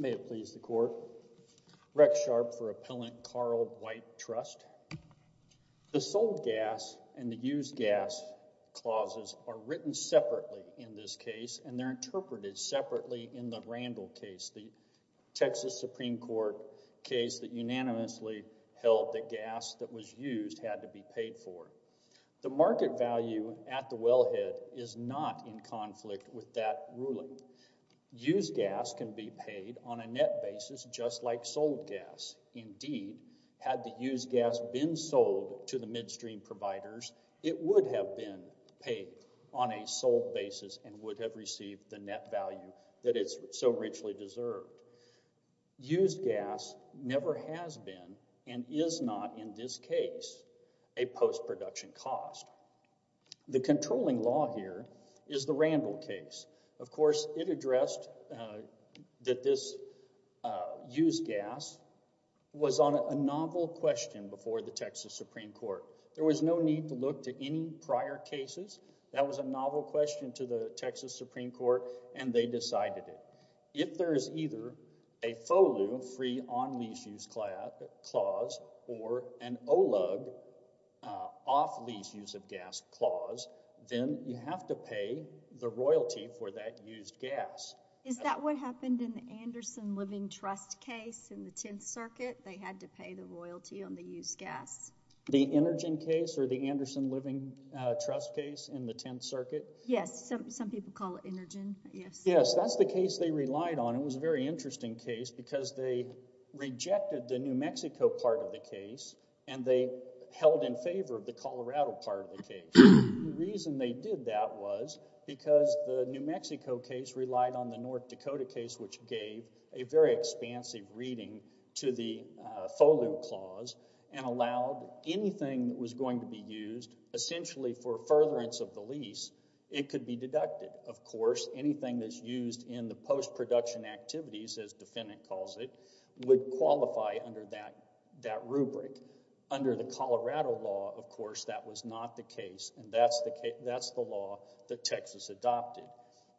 May it please the Court. Rex Sharp for Appellant Carl White, Trust. The sold gas and the used gas clauses are written separately in this case and they're interpreted separately in the Randall case, the Texas Supreme Court case that unanimously held that gas that was used had to be paid for. The market value at the wellhead is not in conflict with that ruling. Used gas can be paid on a net basis just like sold gas. Indeed, had the used gas been sold to the midstream providers, it would have been paid on a sold basis and would have received the net value that it so richly deserved. Used gas never has been and is not in this case a post-production cost. The controlling law here is the Randall case. Of course, it addressed that this used gas was on a novel question before the Texas Supreme Court. There was no need to look to any prior cases. That was a novel question to the Texas Supreme Court and they decided it. If there is either a FOLU, free on lease use clause, or an OLUG, off lease use of gas clause, then you have to pay the royalty for that used gas. Is that what happened in the Anderson Living Trust case in the Tenth Circuit? They had to pay the royalty on the used gas. The Energen case or the Anderson Living Trust case in the Tenth Circuit? Yes. Some people call it Energen. Yes. That's the case they relied on. It was a very interesting case because they rejected the New Mexico part of the case and they held in favor of the Colorado part of the case. The reason they did that was because the New Mexico case relied on the North Dakota case which gave a very expansive reading to the FOLU clause and allowed anything that was going to be used essentially for furtherance of the lease, it could be deducted. Of course, anything that's used in the post-production activities, as defendant calls it, would qualify under that rubric. Under the Colorado law, of course, that was not the case and that's the law that Texas adopted.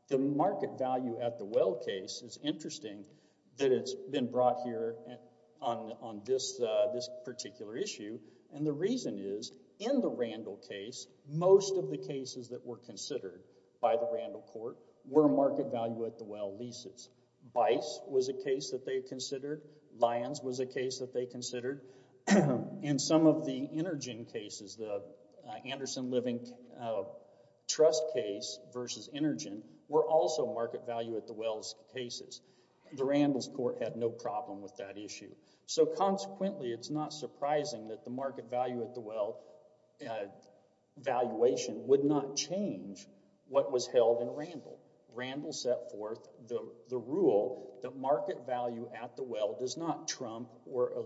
The market value at the well case is interesting that it's been brought here on this particular issue and the reason is, in the Randall case, most of the cases that were considered by the Randall court were market value at the well leases. Bice was a case that they considered, Lyons was a case that they considered, and some of the Energen cases, the Anderson Living Trust case versus Energen, were also market value at the wells cases. The Randall's court had no problem with that issue. So consequently, it's not surprising that the market value at the well valuation would not change what was held in Randall. Randall set forth the rule that market value at the well does not trump or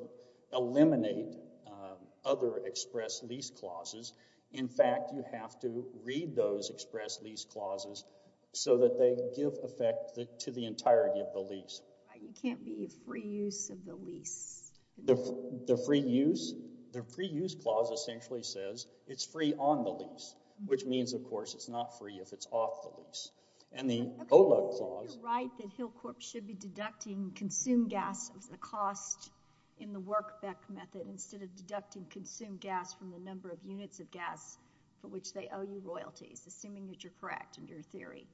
eliminate other express lease clauses. In fact, you have to read those express lease clauses so that they give effect to the entirety of the lease. It can't be free use of the lease. The free use clause essentially says it's free on the lease, which means, of course, it's not free if it's off the lease. And the OLUG clause... Okay, so you're right that Hillcorp should be deducting consumed gas as a cost in the Workbeck method instead of deducting consumed gas from the number of units of gas for which they owe you royalties, assuming that you're correct in your theory.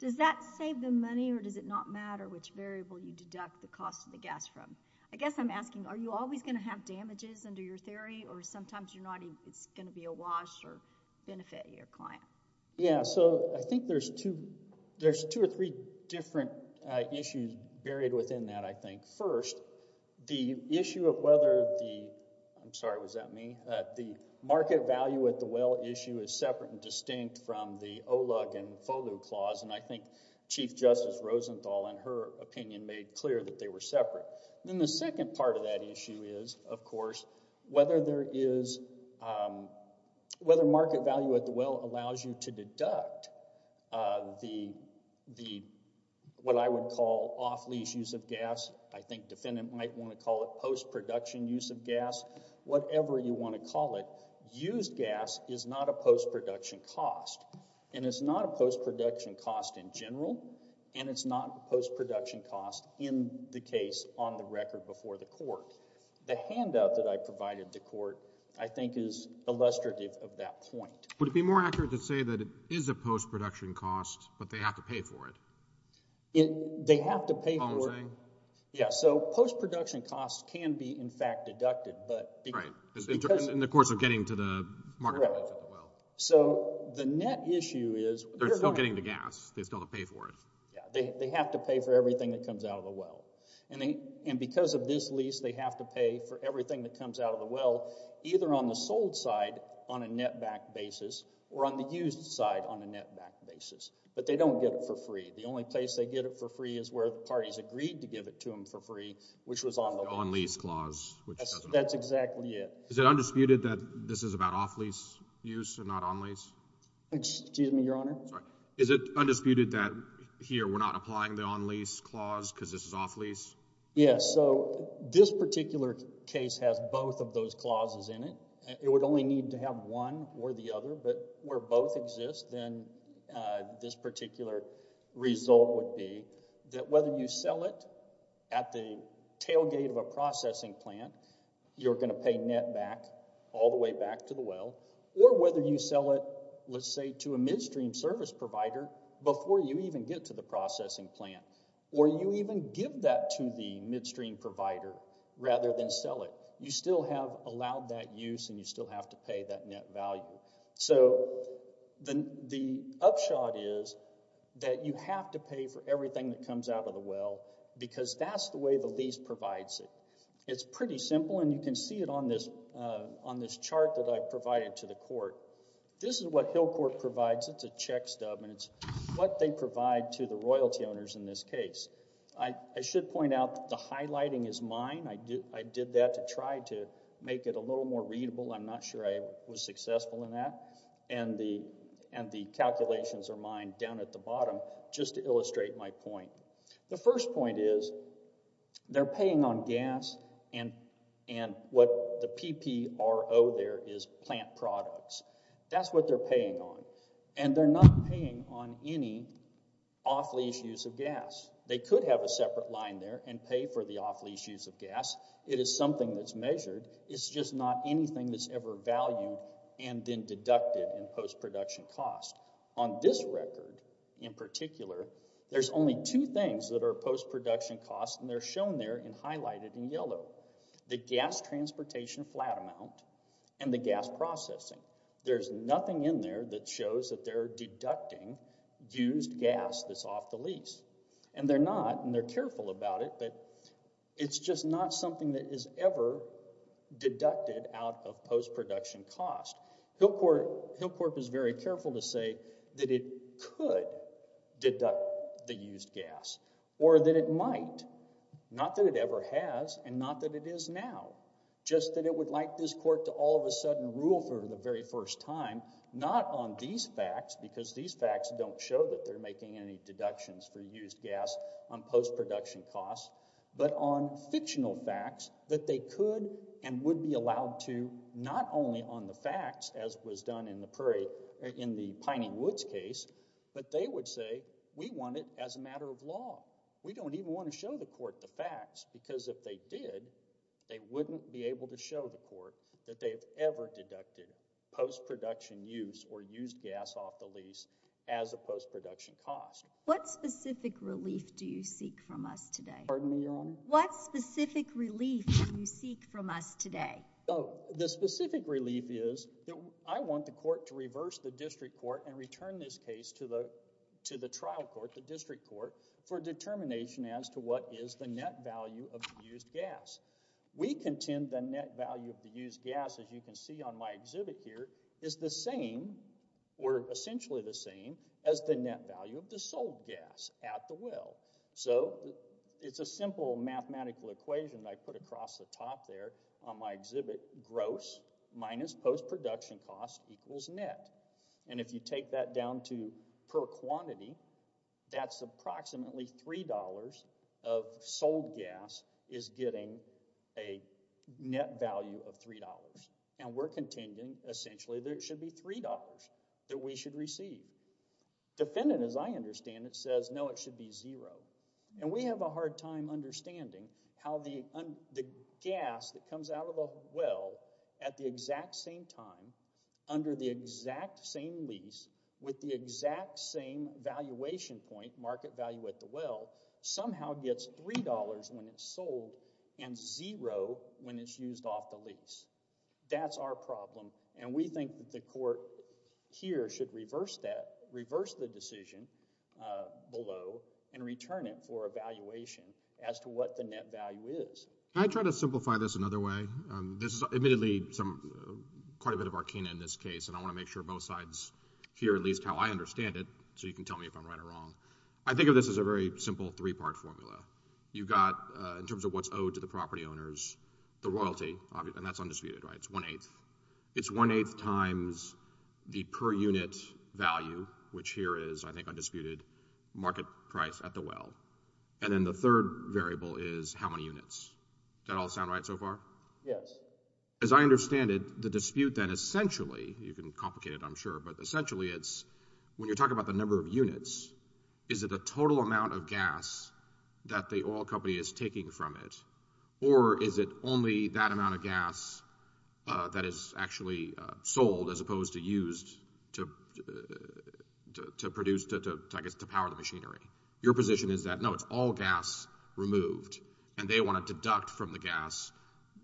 Does that save them money or does it not matter which variable you deduct the cost of the gas from? I guess I'm asking, are you always going to have damages under your theory or sometimes you're not even... It's going to be a wash or benefit to your client? Yeah, so I think there's two or three different issues buried within that, I think. First, the issue of whether the... I'm sorry, was that me? The market value at the well issue is separate and distinct from the OLUG and FOLU clause and I think Chief Justice Rosenthal, in her opinion, made clear that they were separate. Then the second part of that issue is, of course, whether there is... Whether market value at the well allows you to deduct the, what I would call, off-lease use of gas. I think defendant might want to call it post-production use of gas. Whatever you want to call it, used gas is not a post-production cost and it's not a post-production cost in general and it's not a post-production cost in the case on the record before the court. The handout that I provided the court, I think, is illustrative of that point. Would it be more accurate to say that it is a post-production cost but they have to pay They have to pay for... What I'm saying? Yeah, so post-production costs can be, in fact, deducted but... Right, in the course of getting to the market value of the well. So, the net issue is... They're still getting the gas. They still have to pay for it. They have to pay for everything that comes out of the well and because of this lease, they have to pay for everything that comes out of the well, either on the sold side on a net-backed basis or on the used side on a net-backed basis. But they don't get it for free. The only place they get it for free is where parties agreed to give it to them for free, which was on the... The on-lease clause, which doesn't... That's exactly it. Is it undisputed that this is about off-lease use and not on-lease? Excuse me, Your Honor? Is it undisputed that here we're not applying the on-lease clause because this is off-lease? Yeah, so this particular case has both of those clauses in it. It would only need to have one or the other, but where both exist, then this particular result would be that whether you sell it at the tailgate of a processing plant, you're going to pay net-back all the way back to the well, or whether you sell it, let's say, to a midstream service provider before you even get to the processing plant, or you even give that to the midstream provider rather than sell it, you still have allowed that use and you still have to pay that net value. So the upshot is that you have to pay for everything that comes out of the well because that's the way the lease provides it. It's pretty simple, and you can see it on this chart that I provided to the court. This is what Hillcourt provides, it's a check stub, and it's what they provide to the royalty owners in this case. I should point out that the highlighting is mine, I did that to try to make it a little more readable. I'm not sure I was successful in that, and the calculations are mine down at the bottom just to illustrate my point. The first point is they're paying on gas and what the P-P-R-O there is plant products. That's what they're paying on, and they're not paying on any off-lease use of gas. They could have a separate line there and pay for the off-lease use of gas, it is something that's measured, it's just not anything that's ever valued and then deducted in post-production cost. On this record, in particular, there's only two things that are post-production costs and they're shown there and highlighted in yellow. The gas transportation flat amount and the gas processing. There's nothing in there that shows that they're deducting used gas that's off the lease, and they're not, and they're careful about it, but it's just not something that is ever deducted out of post-production cost. Hillcorp is very careful to say that it could deduct the used gas, or that it might. Not that it ever has, and not that it is now, just that it would like this court to all of a sudden rule for the very first time, not on these facts, because these facts don't show that they're making any deductions for used gas on post-production costs, but on the facts, as was done in the Piney Woods case, but they would say, we want it as a matter of law. We don't even want to show the court the facts, because if they did, they wouldn't be able to show the court that they've ever deducted post-production use or used gas off the lease as a post-production cost. What specific relief do you seek from us today? What specific relief do you seek from us today? The specific relief is that I want the court to reverse the district court and return this case to the trial court, the district court, for determination as to what is the net value of the used gas. We contend the net value of the used gas, as you can see on my exhibit here, is the same, or essentially the same, as the net value of the sold gas at the well. So it's a simple mathematical equation I put across the top there on my exhibit, gross minus post-production cost equals net. And if you take that down to per quantity, that's approximately $3 of sold gas is getting a net value of $3. And we're contending, essentially, that it should be $3 that we should receive. Defendant, as I understand it, says, no, it should be $0. And we have a hard time understanding how the gas that comes out of a well at the exact same time, under the exact same lease, with the exact same valuation point, market value at the well, somehow gets $3 when it's sold and $0 when it's used off the lease. That's our problem. And we think that the court here should reverse that, reverse the decision below, and return it for a valuation as to what the net value is. Can I try to simplify this another way? This is admittedly quite a bit of arcana in this case, and I want to make sure both sides hear at least how I understand it, so you can tell me if I'm right or wrong. I think of this as a very simple three-part formula. You've got, in terms of what's owed to the property owners, the royalty, and that's undisputed, right? One-eighth. It's one-eighth times the per-unit value, which here is, I think, undisputed, market price at the well. And then the third variable is how many units. Does that all sound right so far? Yes. As I understand it, the dispute then, essentially, you can complicate it, I'm sure, but essentially it's, when you're talking about the number of units, is it a total amount of gas that the oil company is taking from it, or is it only that amount of gas that is actually sold as opposed to used to produce, I guess, to power the machinery? Your position is that, no, it's all gas removed, and they want to deduct from the gas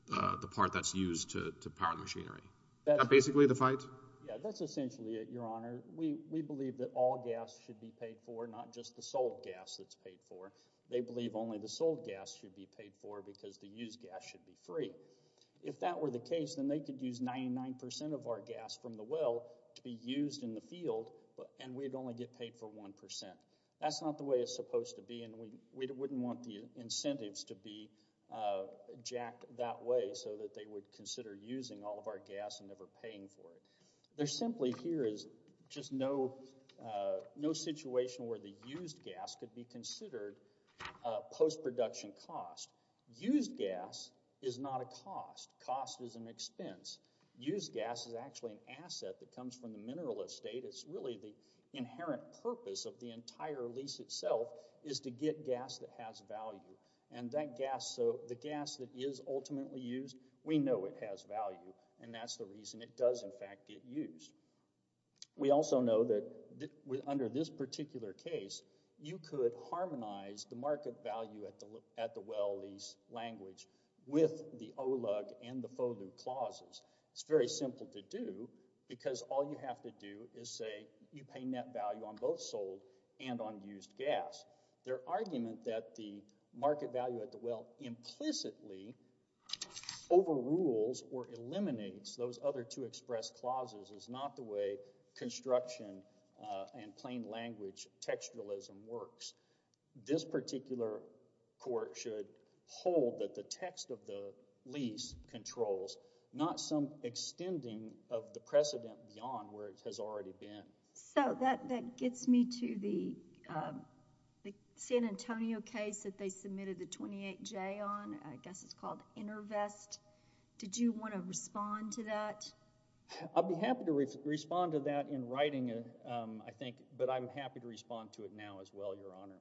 the part that's used to power the machinery. That's basically the fight? Yeah, that's essentially it, Your Honor. We believe that all gas should be paid for, not just the sold gas that's paid for. They believe only the sold gas should be paid for because the used gas should be free. If that were the case, then they could use 99% of our gas from the well to be used in the field, and we'd only get paid for 1%. That's not the way it's supposed to be, and we wouldn't want the incentives to be jacked that way so that they would consider using all of our gas and never paying for it. There simply here is just no situation where the used gas could be considered a post-production cost. Used gas is not a cost. Cost is an expense. Used gas is actually an asset that comes from the mineral estate. It's really the inherent purpose of the entire lease itself is to get gas that has value, and that gas, the gas that is ultimately used, we know it has value, and that's the reason it does, in fact, get used. We also know that under this particular case, you could harmonize the market value at the well lease language with the OLUG and the FOGLU clauses. It's very simple to do because all you have to do is say you pay net value on both sold and on used gas. Their argument that the market value at the well implicitly overrules or eliminates those other two express clauses is not the way construction and plain language textualism works. This particular court should hold that the text of the lease controls, not some extending of the precedent beyond where it has already been. That gets me to the San Antonio case that they submitted the 28-J on, I guess it's called InterVest. Did you want to respond to that? I'd be happy to respond to that in writing, I think, but I'm happy to respond to it now as well, Your Honor.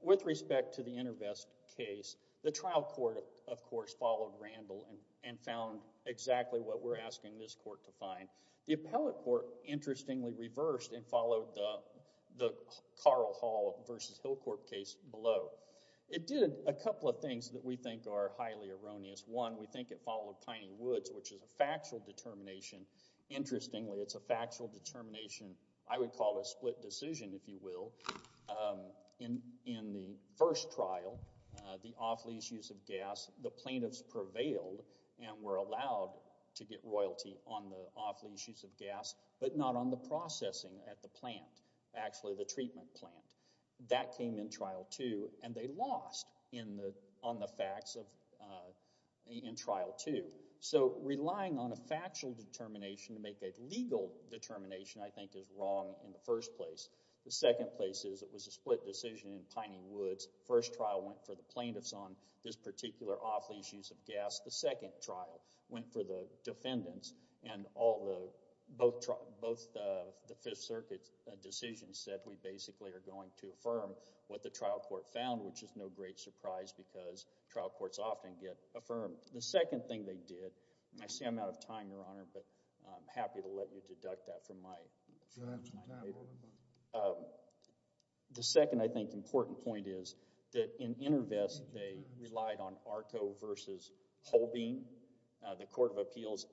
With respect to the InterVest case, the trial court, of course, followed Randall and found exactly what we're asking this court to find. The appellate court, interestingly, reversed and followed the Carl Hall versus Hillcourt case below. It did a couple of things that we think are highly erroneous. One, we think it followed Piney Woods, which is a factual determination. Interestingly, it's a factual determination, I would call a split decision, if you will. In the first trial, the off-lease use of gas, the plaintiffs prevailed and were allowed to get royalty on the off-lease use of gas, but not on the processing at the plant, actually the treatment plant. That came in Trial 2, and they lost on the facts in Trial 2. So relying on a factual determination to make a legal determination, I think, is wrong in the first place. The second place is it was a split decision in Piney Woods. First trial went for the plaintiffs on this particular off-lease use of gas. The second trial went for the defendants, and both the Fifth Circuit decisions said that we basically are going to affirm what the trial court found, which is no great surprise because trial courts often get affirmed. The second thing they did, and I see I'm out of time, Your Honor, but I'm happy to let you deduct that from my paper. The second, I think, important point is that in InterVest, they relied on ARCO versus Holbein, the Court of Appeals.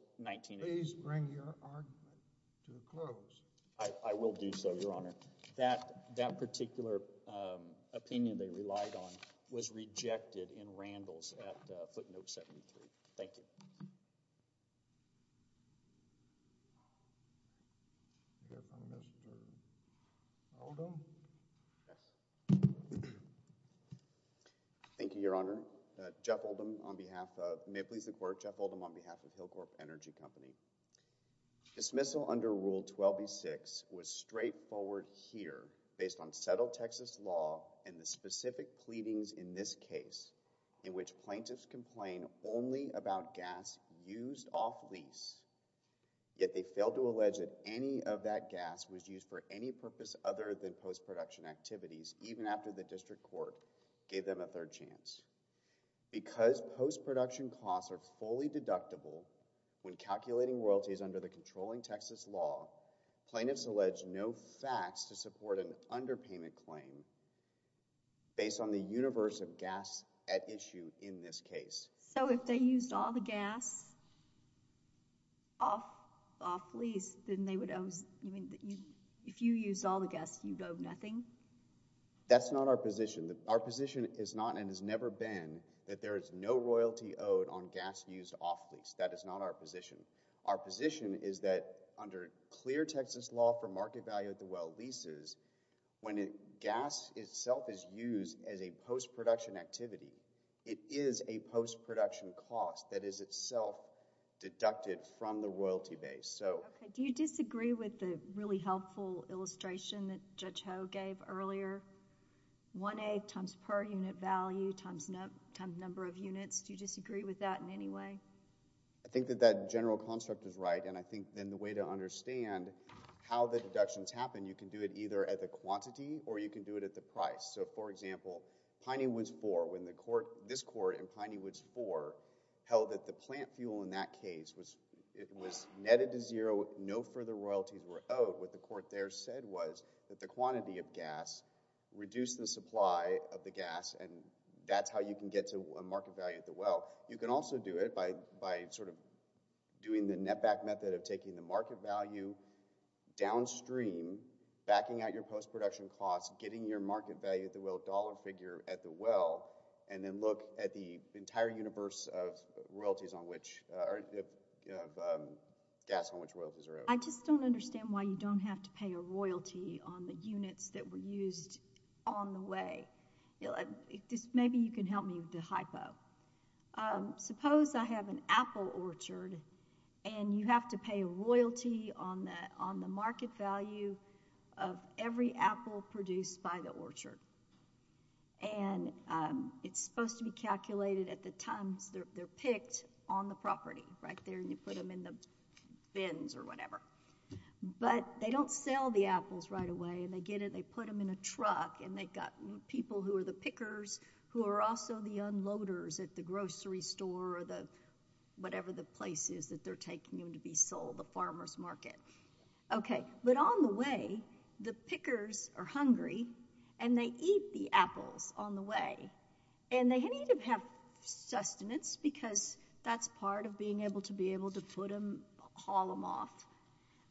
Please bring your argument to a close. I will do so, Your Honor. That particular opinion they relied on was rejected in Randall's at footnote 73. Thank you. Thank you, Your Honor. Jeff Oldham on behalf of, may it please the Court, Jeff Oldham on behalf of Hillcorp Energy Company. Dismissal under Rule 12b-6 was straightforward here based on settled Texas law and the specific pleadings in this case in which plaintiffs complain only about gas used off-lease, yet they failed to allege that any of that gas was used for any purpose other than post-production activities even after the district court gave them a third chance. Because post-production costs are fully deductible when calculating royalties under the controlling Texas law, plaintiffs allege no facts to support an underpayment claim based on the universe of gas at issue in this case. So if they used all the gas off-lease, then they would owe, if you used all the gas, you'd owe nothing? That's not our position. Our position is not and has never been that there is no royalty owed on gas used off-lease. That is not our position. Our position is that under clear Texas law for market value of the well leases, when gas itself is used as a post-production activity, it is a post-production cost that is itself deducted from the royalty base. Okay. Do you disagree with the really helpful illustration that Judge Ho gave earlier? 1A times per unit value times number of units, do you disagree with that in any way? I think that that general construct is right and I think then the way to understand how the deductions happen, you can do it either at the quantity or you can do it at the price. So for example, Piney Woods 4, when this court in Piney Woods 4 held that the plant fuel in that case was netted to zero, no further royalties were owed, what the court there said was that the quantity of gas reduced the supply of the gas and that's how you can get to a market value of the well. You can also do it by sort of doing the net back method of taking the market value downstream, backing out your post-production costs, getting your market value of the well dollar figure at the well, and then look at the entire universe of gas on which royalties are owed. I just don't understand why you don't have to pay a royalty on the units that were used on the way. Maybe you can help me with the hypo. Suppose I have an apple orchard and you have to pay a royalty on the market value of every apple produced by the orchard and it's supposed to be calculated at the times they're picked on the property, right there, and you put them in the bins or whatever, but they don't sell the apples right away and they get it, they put them in a truck and they've got people who are the pickers who are also the unloaders at the grocery store or whatever the place is that they're taking them to be sold, the farmer's market, okay, but on the way the pickers are hungry and they eat the apples on the way and they need to have sustenance because that's part of being able to be able to put them, haul them off,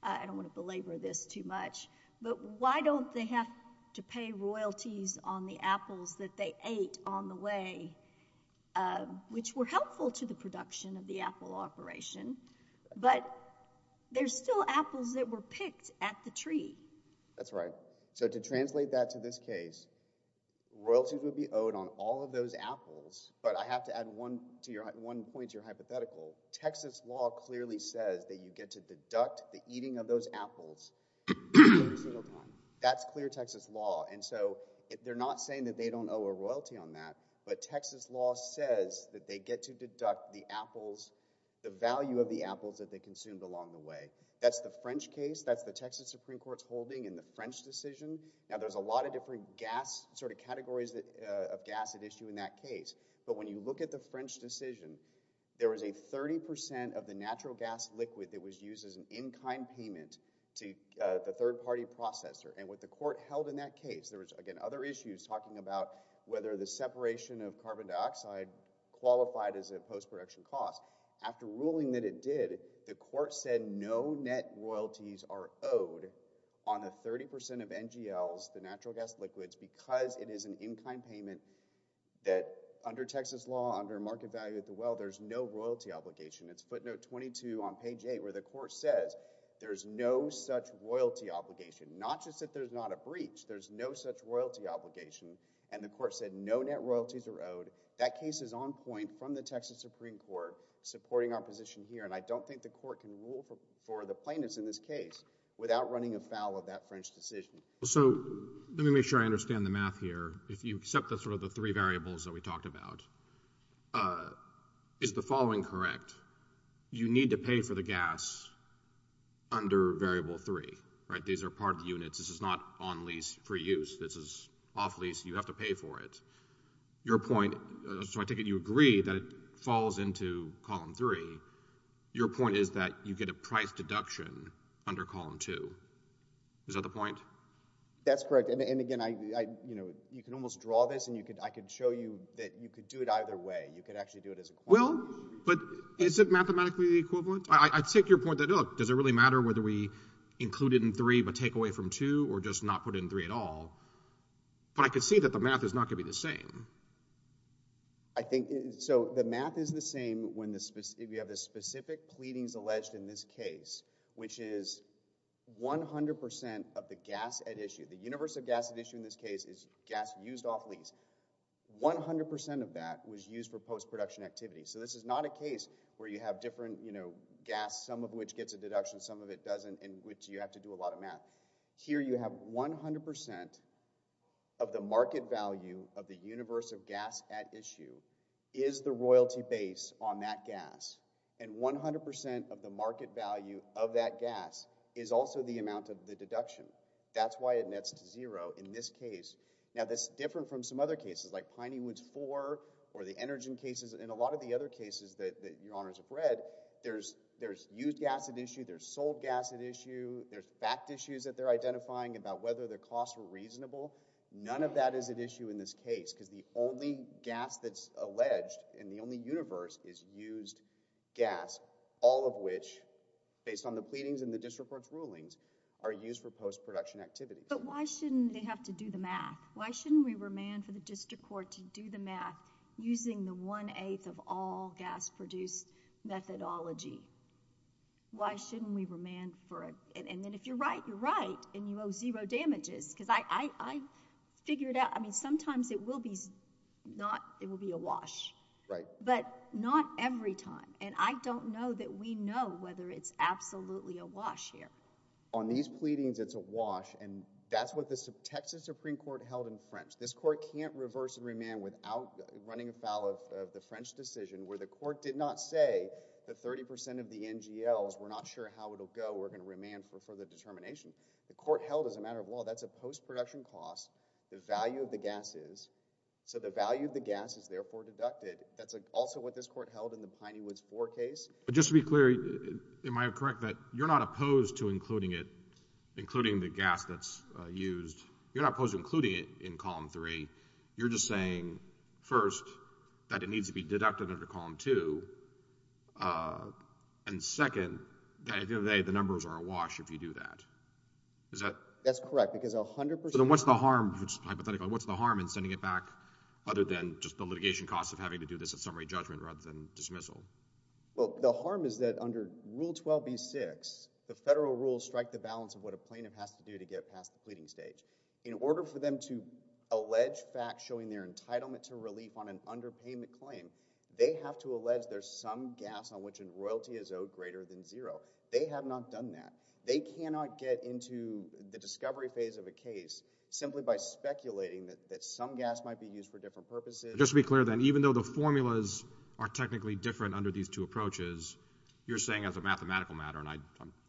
I don't want to belabor this too much, but why don't they have to pay royalties on the apples that they ate on the way, which were helpful to the production of the apple operation, but there's still apples that were picked at the tree. That's right. So to translate that to this case, royalties would be owed on all of those apples, but I have to add one point to your hypothetical, Texas law clearly says that you get to deduct the eating of those apples every single time, that's clear Texas law, and so they're not saying that they don't owe a royalty on that, but Texas law says that they get to deduct the apples, the value of the apples that they consumed along the way, that's the French case, that's the Texas Supreme Court's holding in the French decision, now there's a lot of different gas, sort of categories of gas at issue in that case, but when you look at the French decision, there was a 30% of the natural gas liquid that was used as an in-kind payment to the third party processor, and what the court held in that case, there was again other issues talking about whether the separation of carbon dioxide qualified as a post-production cost, after ruling that it did, the court said no net royalties are owed, that case is on point from the Texas Supreme Court, supporting our position here, and I don't think the court can rule for the plaintiffs in this case without running a the math here, if you accept the three variables that we talked about, is the following correct? You need to pay for the gas under variable three, these are part of the units, this is not on lease for use, this is off lease, you have to pay for it, your point, so I take it you agree that it falls into column three, your point is that you get a price deduction under column two, is that the point? That's correct, and again, you can almost draw this, and I can show you that you can do it either way, you can actually do it as a quorum. Well, but is it mathematically the equivalent? I take your point that, look, does it really matter whether we include it in three but take away from two, or just not put it in three at all, but I can see that the math is not going to be the same. I think, so the math is the same if you have the specific pleadings alleged in this case, which is 100% of the gas at issue, the universe of gas at issue in this case is gas used off lease, 100% of that was used for post-production activity, so this is not a case where you have different, you know, gas, some of which gets a deduction, some of it doesn't, in which you have to do a lot of math. Here you have 100% of the market value of the universe of gas at issue, is the royalty base on that gas, and 100% of the market value of that gas is also the amount of the deduction. That's why it nets to zero in this case. Now, this is different from some other cases, like Piney Woods 4, or the Energen cases, and a lot of the other cases that your honors have read, there's used gas at issue, there's sold gas at issue, there's fact issues that they're identifying about whether the costs were reasonable, none of that is at issue in this case, because the only gas that's at issue in the universe is used gas, all of which, based on the pleadings and the district court's rulings, are used for post-production activity. But why shouldn't they have to do the math? Why shouldn't we remand for the district court to do the math using the one-eighth of all gas produced methodology? Why shouldn't we remand for it? And then if you're right, you're right, and you owe zero damages, because I figured out... I mean, sometimes it will be a wash, but not every time, and I don't know that we know whether it's absolutely a wash here. On these pleadings, it's a wash, and that's what the Texas Supreme Court held in French. This court can't reverse and remand without running afoul of the French decision, where the court did not say that 30 percent of the NGLs were not sure how it'll go, we're going to remand for further determination. The court held, as a matter of law, that's a post-production cost. The value of the gas is, so the value of the gas is therefore deducted. That's also what this court held in the Piney Woods 4 case. But just to be clear, am I correct that you're not opposed to including it, including the gas that's used, you're not opposed to including it in Column 3, you're just saying, first, that it needs to be deducted under Column 2, and second, that at the end of the day, the numbers are a wash if you do that. Is that... That's correct, because 100 percent... So then what's the harm, hypothetically, what's the harm in sending it back other than just the litigation cost of having to do this at summary judgment rather than dismissal? Well, the harm is that under Rule 12b-6, the federal rules strike the balance of what a plaintiff has to do to get past the pleading stage. In order for them to allege facts showing their entitlement to relief on an underpayment claim, they have to allege there's some gas on which a royalty is owed greater than zero. They have not done that. They cannot get into the discovery phase of a case simply by speculating that some gas might be used for different purposes. Just to be clear then, even though the formulas are technically different under these two approaches, you're saying as a mathematical matter, and I'm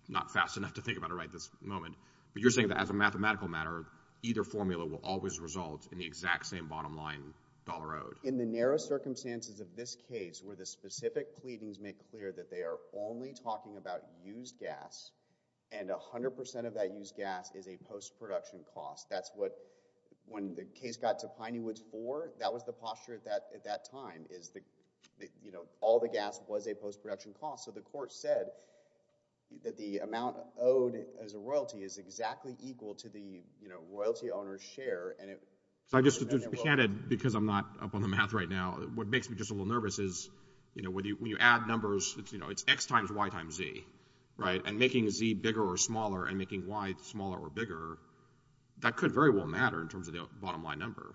not fast enough to think about it right this moment, but you're saying that as a mathematical matter, either formula will always result in the exact same bottom line dollar owed. In the narrow circumstances of this case, where the specific pleadings make clear that they are only talking about used gas, and 100% of that used gas is a post-production cost. That's what, when the case got to Piney Woods 4, that was the posture at that time. All the gas was a post-production cost, so the court said that the amount owed as a royalty is exactly equal to the royalty owner's share, and it... Just to be candid, because I'm not up on the math right now, what makes me just a little nervous is when you add numbers, it's X times Y times Z, and making Z bigger or smaller, and making Y smaller or bigger, that could very well matter in terms of the bottom line number.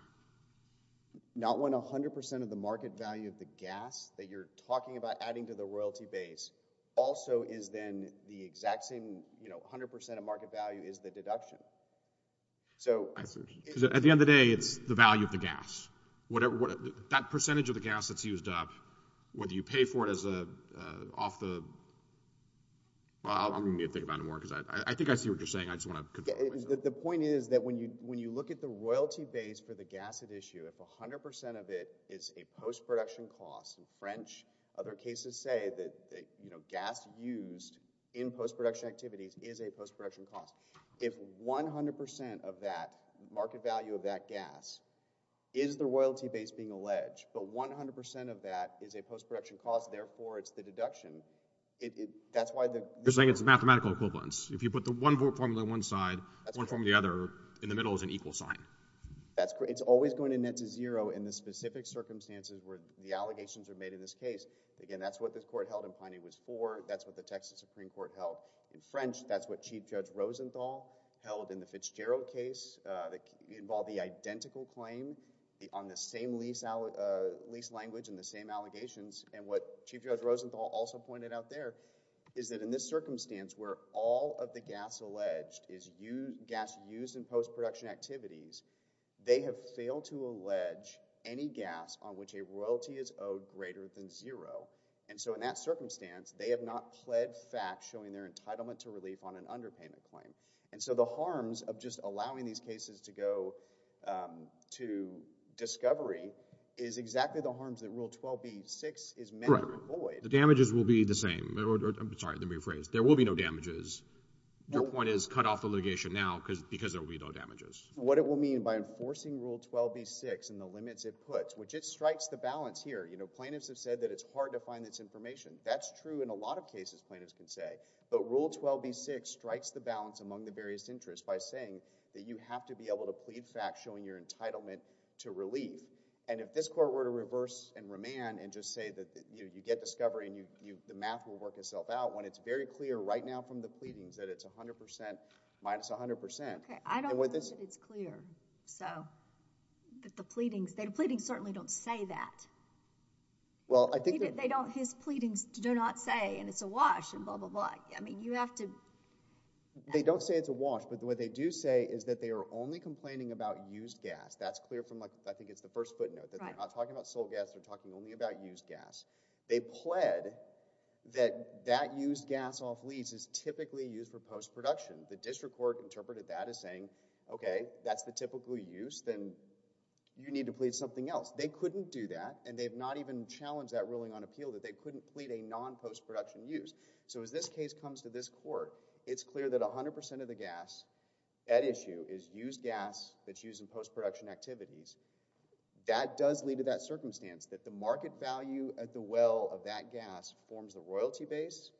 Not when 100% of the market value of the gas that you're talking about adding to the royalty base also is then the exact same... 100% of market value is the deduction. So... At the end of the day, it's the value of the gas. That percentage of the gas that's used up, whether you pay for it off the... I'm going to need to think about it more, because I think I see what you're saying. I just want to confirm what you're saying. The point is that when you look at the royalty base for the gas at issue, if 100% of it is a post-production cost, in French, other cases say that gas used in post-production activities is a post-production cost. If 100% of that market value of that gas is the royalty base being alleged, but 100% of that is a post-production cost, therefore it's the deduction, that's why the... You're saying it's the mathematical equivalence. If you put the one formula on one side, one formula on the other, in the middle is an equal sign. It's always going to net to zero in the specific circumstances where the allegations are made in this case. Again, that's what this court held in Piney Woods 4. That's what the Texas Supreme Court held in French. That's what Chief Judge Rosenthal held in the Fitzgerald case that involved the identical claim on the same lease language and the same allegations. What Chief Judge Rosenthal also pointed out there is that in this circumstance where all of the gas alleged is gas used in post-production activities, they have failed to allege any gas on which a royalty is owed greater than zero. And so in that circumstance, they have not pled fact showing their entitlement to relief on an underpayment claim. And so the harms of just allowing these cases to go to discovery is exactly the harms that Rule 12b-6 is meant to avoid. The damages will be the same. I'm sorry, let me rephrase. There will be no damages. Your point is cut off the litigation now because there will be no damages. What it will mean by enforcing Rule 12b-6 and the limits it puts, which it strikes the balance among the various interests by saying that you have to be able to plead fact showing your entitlement to relief. And if this Court were to reverse and remand and just say that you get discovery and the math will work itself out when it's very clear right now from the pleadings that it's 100% minus 100%. Okay. I don't think that it's clear, so that the pleadings, the pleadings certainly don't say that. Well, I think that... They don't, his pleadings do not say, and it's a wash, and blah, blah, blah. I mean, you have to... They don't say it's a wash, but what they do say is that they are only complaining about used gas. That's clear from like, I think it's the first footnote, that they're not talking about sole gas, they're talking only about used gas. They pled that that used gas off lease is typically used for post-production. The district court interpreted that as saying, okay, that's the typical use, then you need to plead something else. They couldn't do that, and they've not even challenged that ruling on appeal, that they couldn't plead a non-post-production use. So as this case comes to this court, it's clear that 100% of the gas at issue is used gas that's used in post-production activities. That does lead to that circumstance, that the market value at the well of that gas forms the royalty base,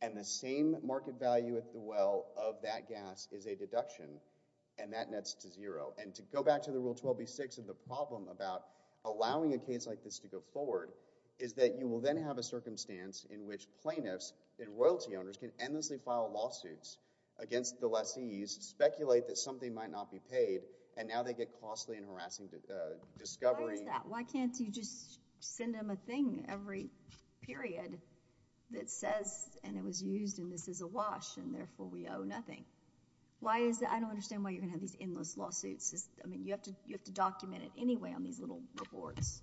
and the same market value at the well of that gas is a deduction, and that nets to zero. And to go back to the Rule 12b-6 of the problem about allowing a case like this to go forward, is that you will then have a circumstance in which plaintiffs and royalty owners can endlessly file lawsuits against the lessees, speculate that something might not be paid, and now they get costly and harassing discovery. Why is that? Why can't you just send them a thing every period that says, and it was used, and this is a wash, and therefore we owe nothing? Why is that? I don't understand why you're going to have these endless lawsuits. I mean, you have to document it anyway on these little reports.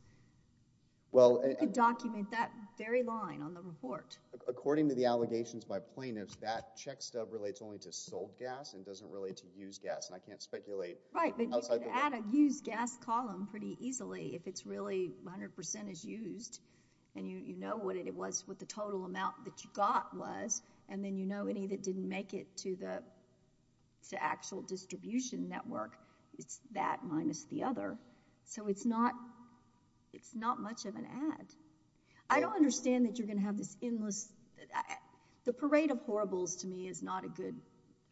You could document that very line on the report. According to the allegations by plaintiffs, that check stub relates only to sold gas and doesn't relate to used gas, and I can't speculate outside the law. Right, but you could add a used gas column pretty easily if it's really 100% is used, and you know what it was, what the total amount that you got was, and then you know any that didn't make it to the actual distribution network, it's that minus the other. So it's not much of an add. I don't understand that you're going to have this endless, the parade of horribles to me is not a good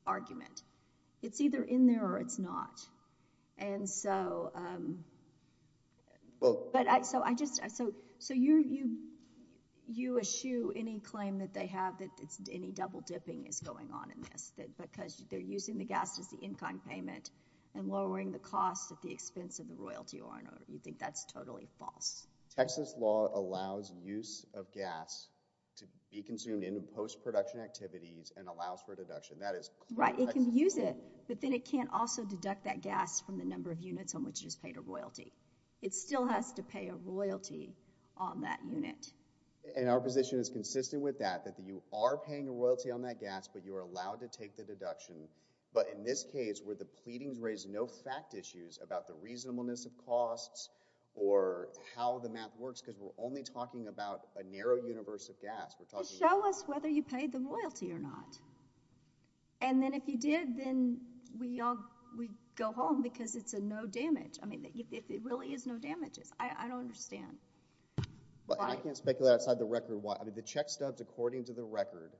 argument. It's either in there or it's not, and so you eschew any claim that they have that any double dipping is going on in this, that because they're using the gas as the in-kind payment and lowering the cost at the expense of the royalty or in order, we think that's totally false. Texas law allows use of gas to be consumed in post-production activities and allows for deduction. That is correct. Right, it can use it, but then it can't also deduct that gas from the number of units on which it's paid a royalty. It still has to pay a royalty on that unit. And our position is consistent with that, that you are paying a royalty on that gas, but you are allowed to take the deduction, but in this case, were the pleadings raised no fact issues about the reasonableness of costs or how the math works, because we're only talking about a narrow universe of gas. Show us whether you paid the royalty or not, and then if you did, then we all, we go home because it's a no damage. I mean, if it really is no damages, I don't understand. I can't speculate outside the record why, I mean, the check stubs according to the record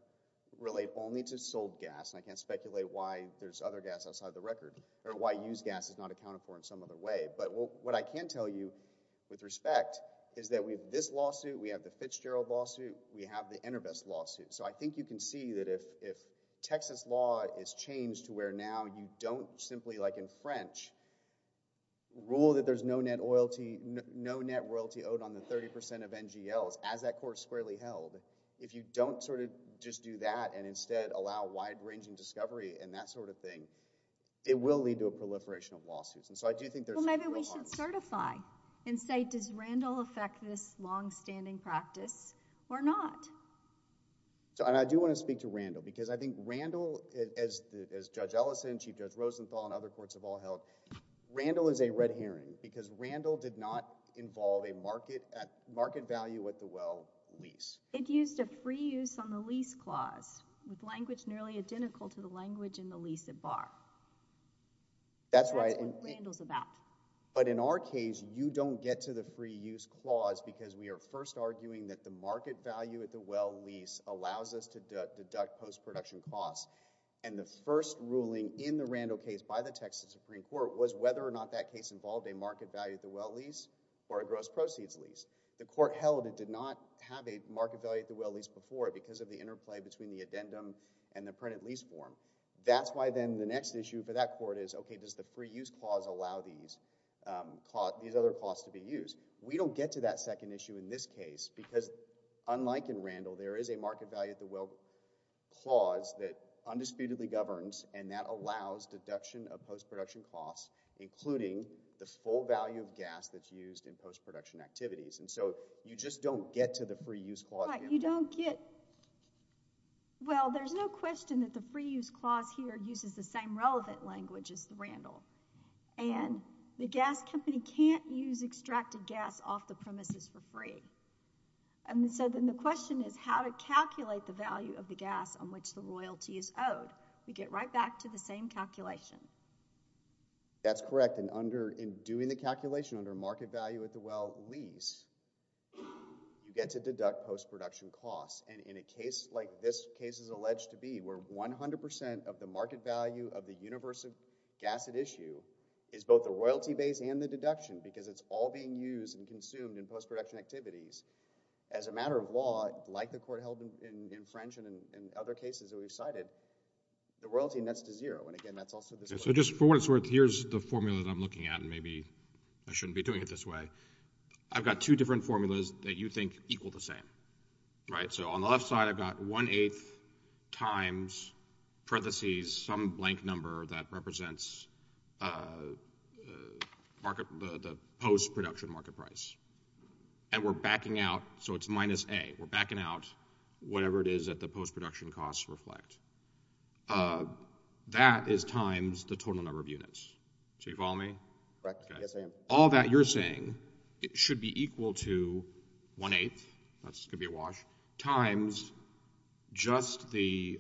relate only to sold gas, and I can't speculate why there's other gas outside the record, or why used gas is not accounted for in some other way, but what I can tell you with respect is that we have this lawsuit, we have the Fitzgerald lawsuit, we have the Enterbest lawsuit. So I think you can see that if Texas law is changed to where now you don't simply, like on the 30% of NGLs, as that court squarely held, if you don't sort of just do that and instead allow wide-ranging discovery and that sort of thing, it will lead to a proliferation of lawsuits. And so I do think there's real harm. Well, maybe we should certify and say, does Randall affect this longstanding practice or not? And I do want to speak to Randall, because I think Randall, as Judge Ellison, Chief Judge Rosenthal, and other courts have all held, Randall is a red herring, because Randall did not involve a market value at the well lease. It used a free use on the lease clause, with language nearly identical to the language in the lease at bar. That's what Randall's about. But in our case, you don't get to the free use clause, because we are first arguing that the market value at the well lease allows us to deduct post-production costs. And the first ruling in the Randall case by the Texas Supreme Court was whether or not that case involved a market value at the well lease or a gross proceeds lease. The court held it did not have a market value at the well lease before, because of the interplay between the addendum and the printed lease form. That's why then the next issue for that court is, okay, does the free use clause allow these other clauses to be used? We don't get to that second issue in this case, because unlike in Randall, there is a market value at the well clause that undisputedly governs, and that allows deduction of post-production costs, including the full value of gas that's used in post-production activities. And so you just don't get to the free use clause. You don't get, well, there's no question that the free use clause here uses the same relevant language as the Randall. And the gas company can't use extracted gas off the premises for free. And so then the question is how to calculate the value of the gas on which the loyalty is owed. We get right back to the same calculation. That's correct. In doing the calculation under market value at the well lease, you get to deduct post-production costs. And in a case like this case is alleged to be, where 100 percent of the market value of the universal gas at issue is both the royalty base and the deduction, because it's all being used and consumed in post-production activities, as a matter of law, like the court held in French and in other cases that we've cited, the royalty nets to zero. And again, that's also this way. So just for what it's worth, here's the formula that I'm looking at, and maybe I shouldn't be doing it this way. I've got two different formulas that you think equal the same, right? So on the left side, I've got one-eighth times parentheses, some blank number that represents the post-production market price. And we're backing out. So it's minus A. We're backing out whatever it is that the post-production costs reflect. That is times the total number of units. So you follow me? Correct. Yes, I am. All that you're saying should be equal to one-eighth, that's going to be a wash, times just the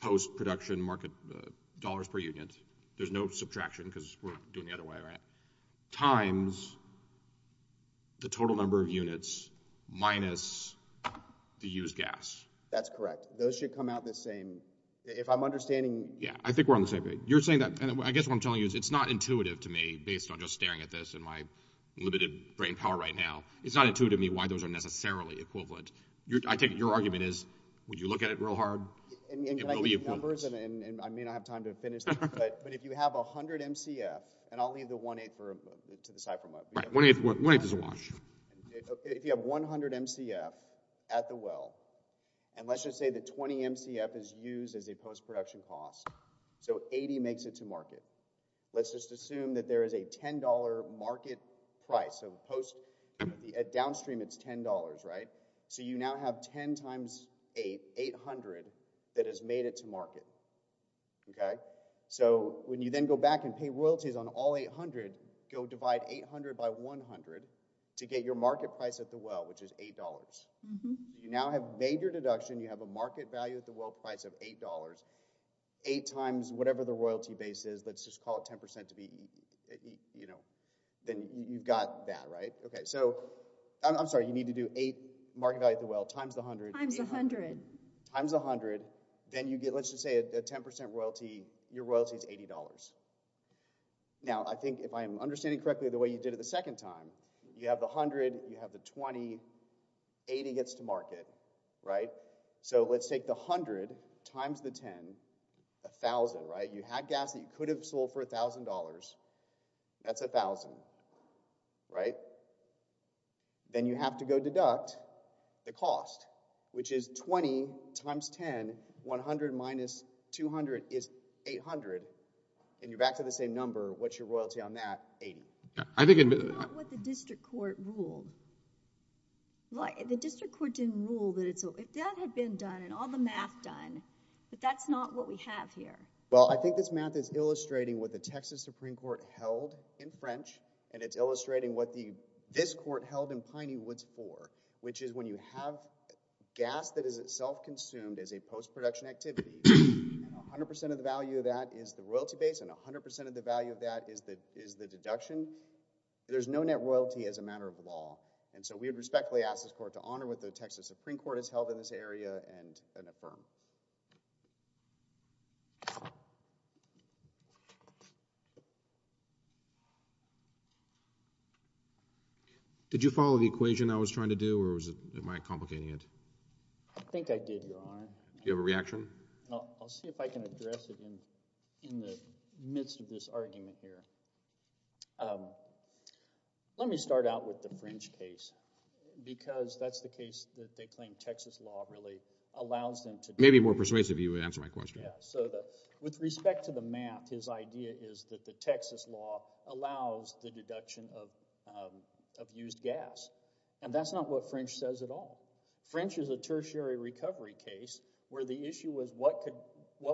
post-production market dollars per unit. There's no subtraction because we're doing it the other way, right? Times the total number of units minus the used gas. That's correct. Those should come out the same. If I'm understanding... Yeah, I think we're on the same page. You're saying that, and I guess what I'm telling you is it's not intuitive to me based on just staring at this and my limited brain power right now. It's not intuitive to me why those are necessarily equivalent. I take it your argument is, would you look at it real hard? And can I give you numbers, and I may not have time to finish this, but if you have 100 MCF, and I'll leave the one-eighth to the side for a moment. One-eighth is a wash. If you have 100 MCF at the well, and let's just say that 20 MCF is used as a post-production cost, so 80 makes it to market. Let's just assume that there is a $10 market price, so at downstream it's $10, right? So you now have 10 times eight, 800, that has made it to market. Okay? So when you then go back and pay royalties on all 800, go divide 800 by 100 to get your market price at the well, which is $8. You now have made your deduction, you have a market value at the well price of $8, eight times whatever the royalty base is, let's just call it 10% to be, you know, then you've got that, right? Okay, so, I'm sorry, you need to do eight market value at the well times the 100, 800. Times 100. Then you get, let's just say a 10% royalty, your royalty is $80. Now I think if I'm understanding correctly the way you did it the second time, you have the 100, you have the 20, 80 gets to market, right? So let's take the 100 times the 10, 1,000, right? You had gas that you could have sold for $1,000, that's 1,000, right? Then you have to go deduct the cost, which is 20 times 10, 100 minus 200 is 800, and you're back to the same number, what's your royalty on that? 80. I think it— That's not what the district court ruled. The district court didn't rule that it's—if that had been done and all the math done, but that's not what we have here. Well, I think this math is illustrating what the Texas Supreme Court held in French, and it's illustrating what this court held in Piney Woods for, which is when you have gas that is itself consumed as a post-production activity, and 100% of the value of that is the royalty base, and 100% of the value of that is the deduction, there's no net royalty as a matter of law. And so we would respectfully ask this court to honor what the Texas Supreme Court has held in this area and affirm. Did you follow the equation I was trying to do, or am I complicating it? I think I did, Your Honor. Do you have a reaction? I'll see if I can address it in the midst of this argument here. Let me start out with the French case, because that's the case that they claim Texas law really allows them to— Maybe more persuasive, you would answer my question. With respect to the math, his idea is that the Texas law allows the deduction of used gas, and that's not what French says at all. French is a tertiary recovery case where the issue was what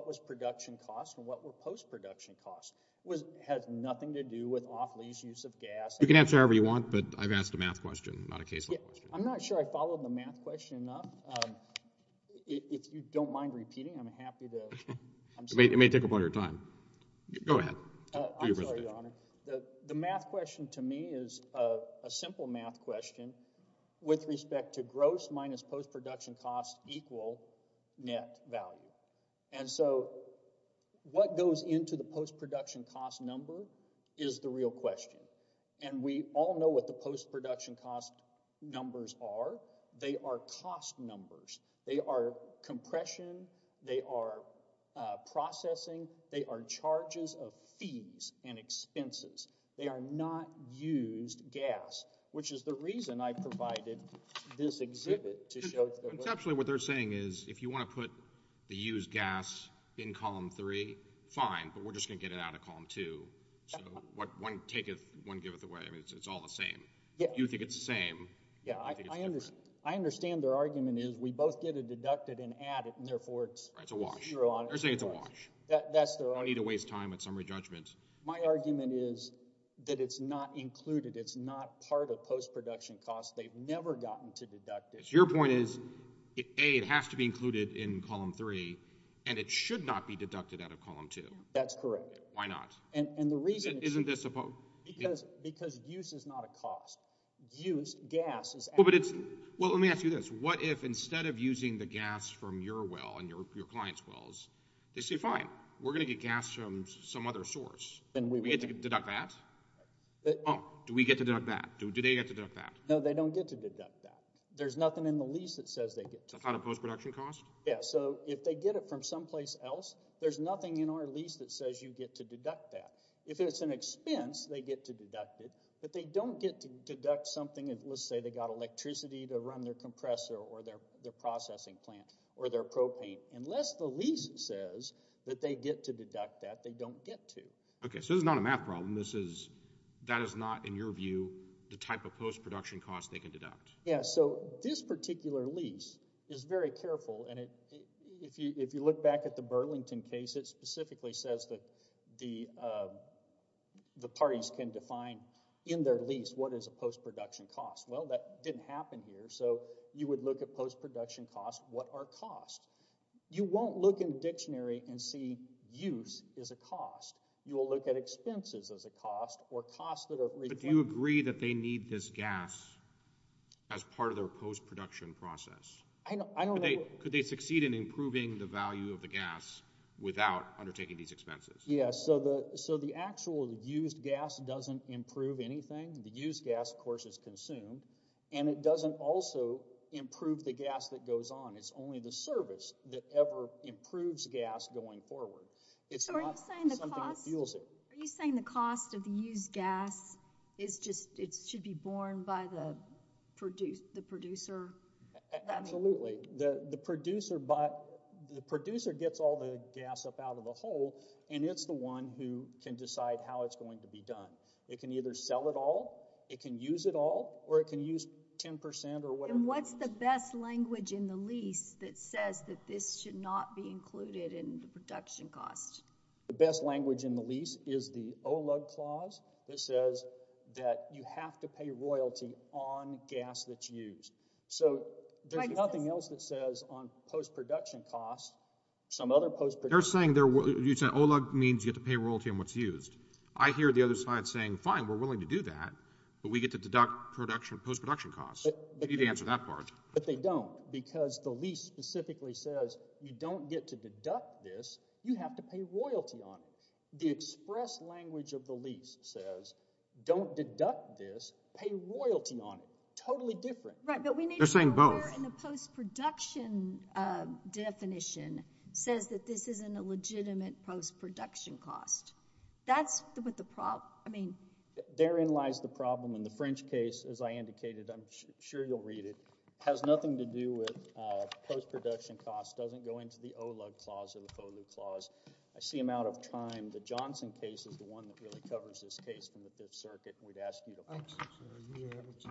was production cost and what were post-production costs. It has nothing to do with off-lease use of gas. You can answer however you want, but I've asked a math question, not a case law question. I'm not sure I followed the math question enough. If you don't mind repeating, I'm happy to— It may take up all your time. Go ahead. I'm sorry, Your Honor. The math question to me is a simple math question with respect to gross minus post-production cost equal net value. And so what goes into the post-production cost number is the real question. And we all know what the post-production cost numbers are. They are cost numbers. They are compression. They are processing. They are charges of fees and expenses. They are not used gas, which is the reason I provided this exhibit to show— Conceptually, what they're saying is if you want to put the used gas in Column 3, fine, but we're just going to get it out of Column 2. So one taketh, one giveth away. It's all the same. You think it's the same. I understand their argument is we both get it deducted and added, and therefore it's— It's a wash. They're saying it's a wash. That's their argument. I don't need to waste time with summary judgments. My argument is that it's not included. It's not part of post-production cost. They've never gotten to deduct it. Your point is, A, it has to be included in Column 3, and it should not be deducted out of Column 2. That's correct. Why not? And the reason— Isn't this a— Because use is not a cost. Use, gas— Well, but it's— Well, let me ask you this. What if instead of using the gas from your well and your client's wells, they say, fine, we're going to get gas from some other source. Then we would— Do we get to deduct that? No. Do we get to deduct that? Do they get to deduct that? No, they don't get to deduct that. There's nothing in the lease that says they get to. That's not a post-production cost? Yeah. So if they get it from someplace else, there's nothing in our lease that says you get to deduct that. If it's an expense, they get to deduct it. If they don't get to deduct something, let's say they got electricity to run their compressor or their processing plant or their propane, unless the lease says that they get to deduct that, they don't get to. Okay. So this is not a math problem. This is— That is not, in your view, the type of post-production cost they can deduct? Yeah. So this particular lease is very careful, and if you look back at the Burlington case, it specifically says that the parties can define in their lease what is a post-production cost. Well, that didn't happen here, so you would look at post-production costs. What are costs? You won't look in the dictionary and see use as a cost. You will look at expenses as a cost or costs that are— But do you agree that they need this gas as part of their post-production process? I don't— Could they succeed in improving the value of the gas without undertaking these expenses? Yeah. So the actual used gas doesn't improve anything. The used gas, of course, is consumed, and it doesn't also improve the gas that goes on. It's only the service that ever improves gas going forward. It's not something that fuels it. So are you saying the cost of the used gas is just—it should be borne by the producer? Absolutely. The producer gets all the gas up out of the hole, and it's the one who can decide how it's going to be done. It can either sell it all, it can use it all, or it can use 10 percent or whatever. And what's the best language in the lease that says that this should not be included in the production cost? The best language in the lease is the OLUG clause that says that you have to pay royalty on gas that's used. So there's nothing else that says on post-production costs, some other post-production— You're saying OLUG means you have to pay royalty on what's used. I hear the other side saying, fine, we're willing to do that, but we get to deduct post-production costs. You need to answer that part. But they don't because the lease specifically says you don't get to deduct this. You have to pay royalty on it. The express language of the lease says don't deduct this, pay royalty on it. Totally different. Right, but we need— They're saying both. The post-production definition says that this isn't a legitimate post-production cost. That's what the problem—I mean— Therein lies the problem, and the French case, as I indicated, I'm sure you'll read it, has nothing to do with post-production costs, doesn't go into the OLUG clause or the FOLU clause. I see I'm out of time. The Johnson case is the one that really covers this case from the Fifth Circuit. We'd ask you to— Thank you, sir. Are you able to—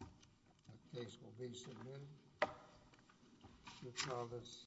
That case will be submitted. Mr. Chavez.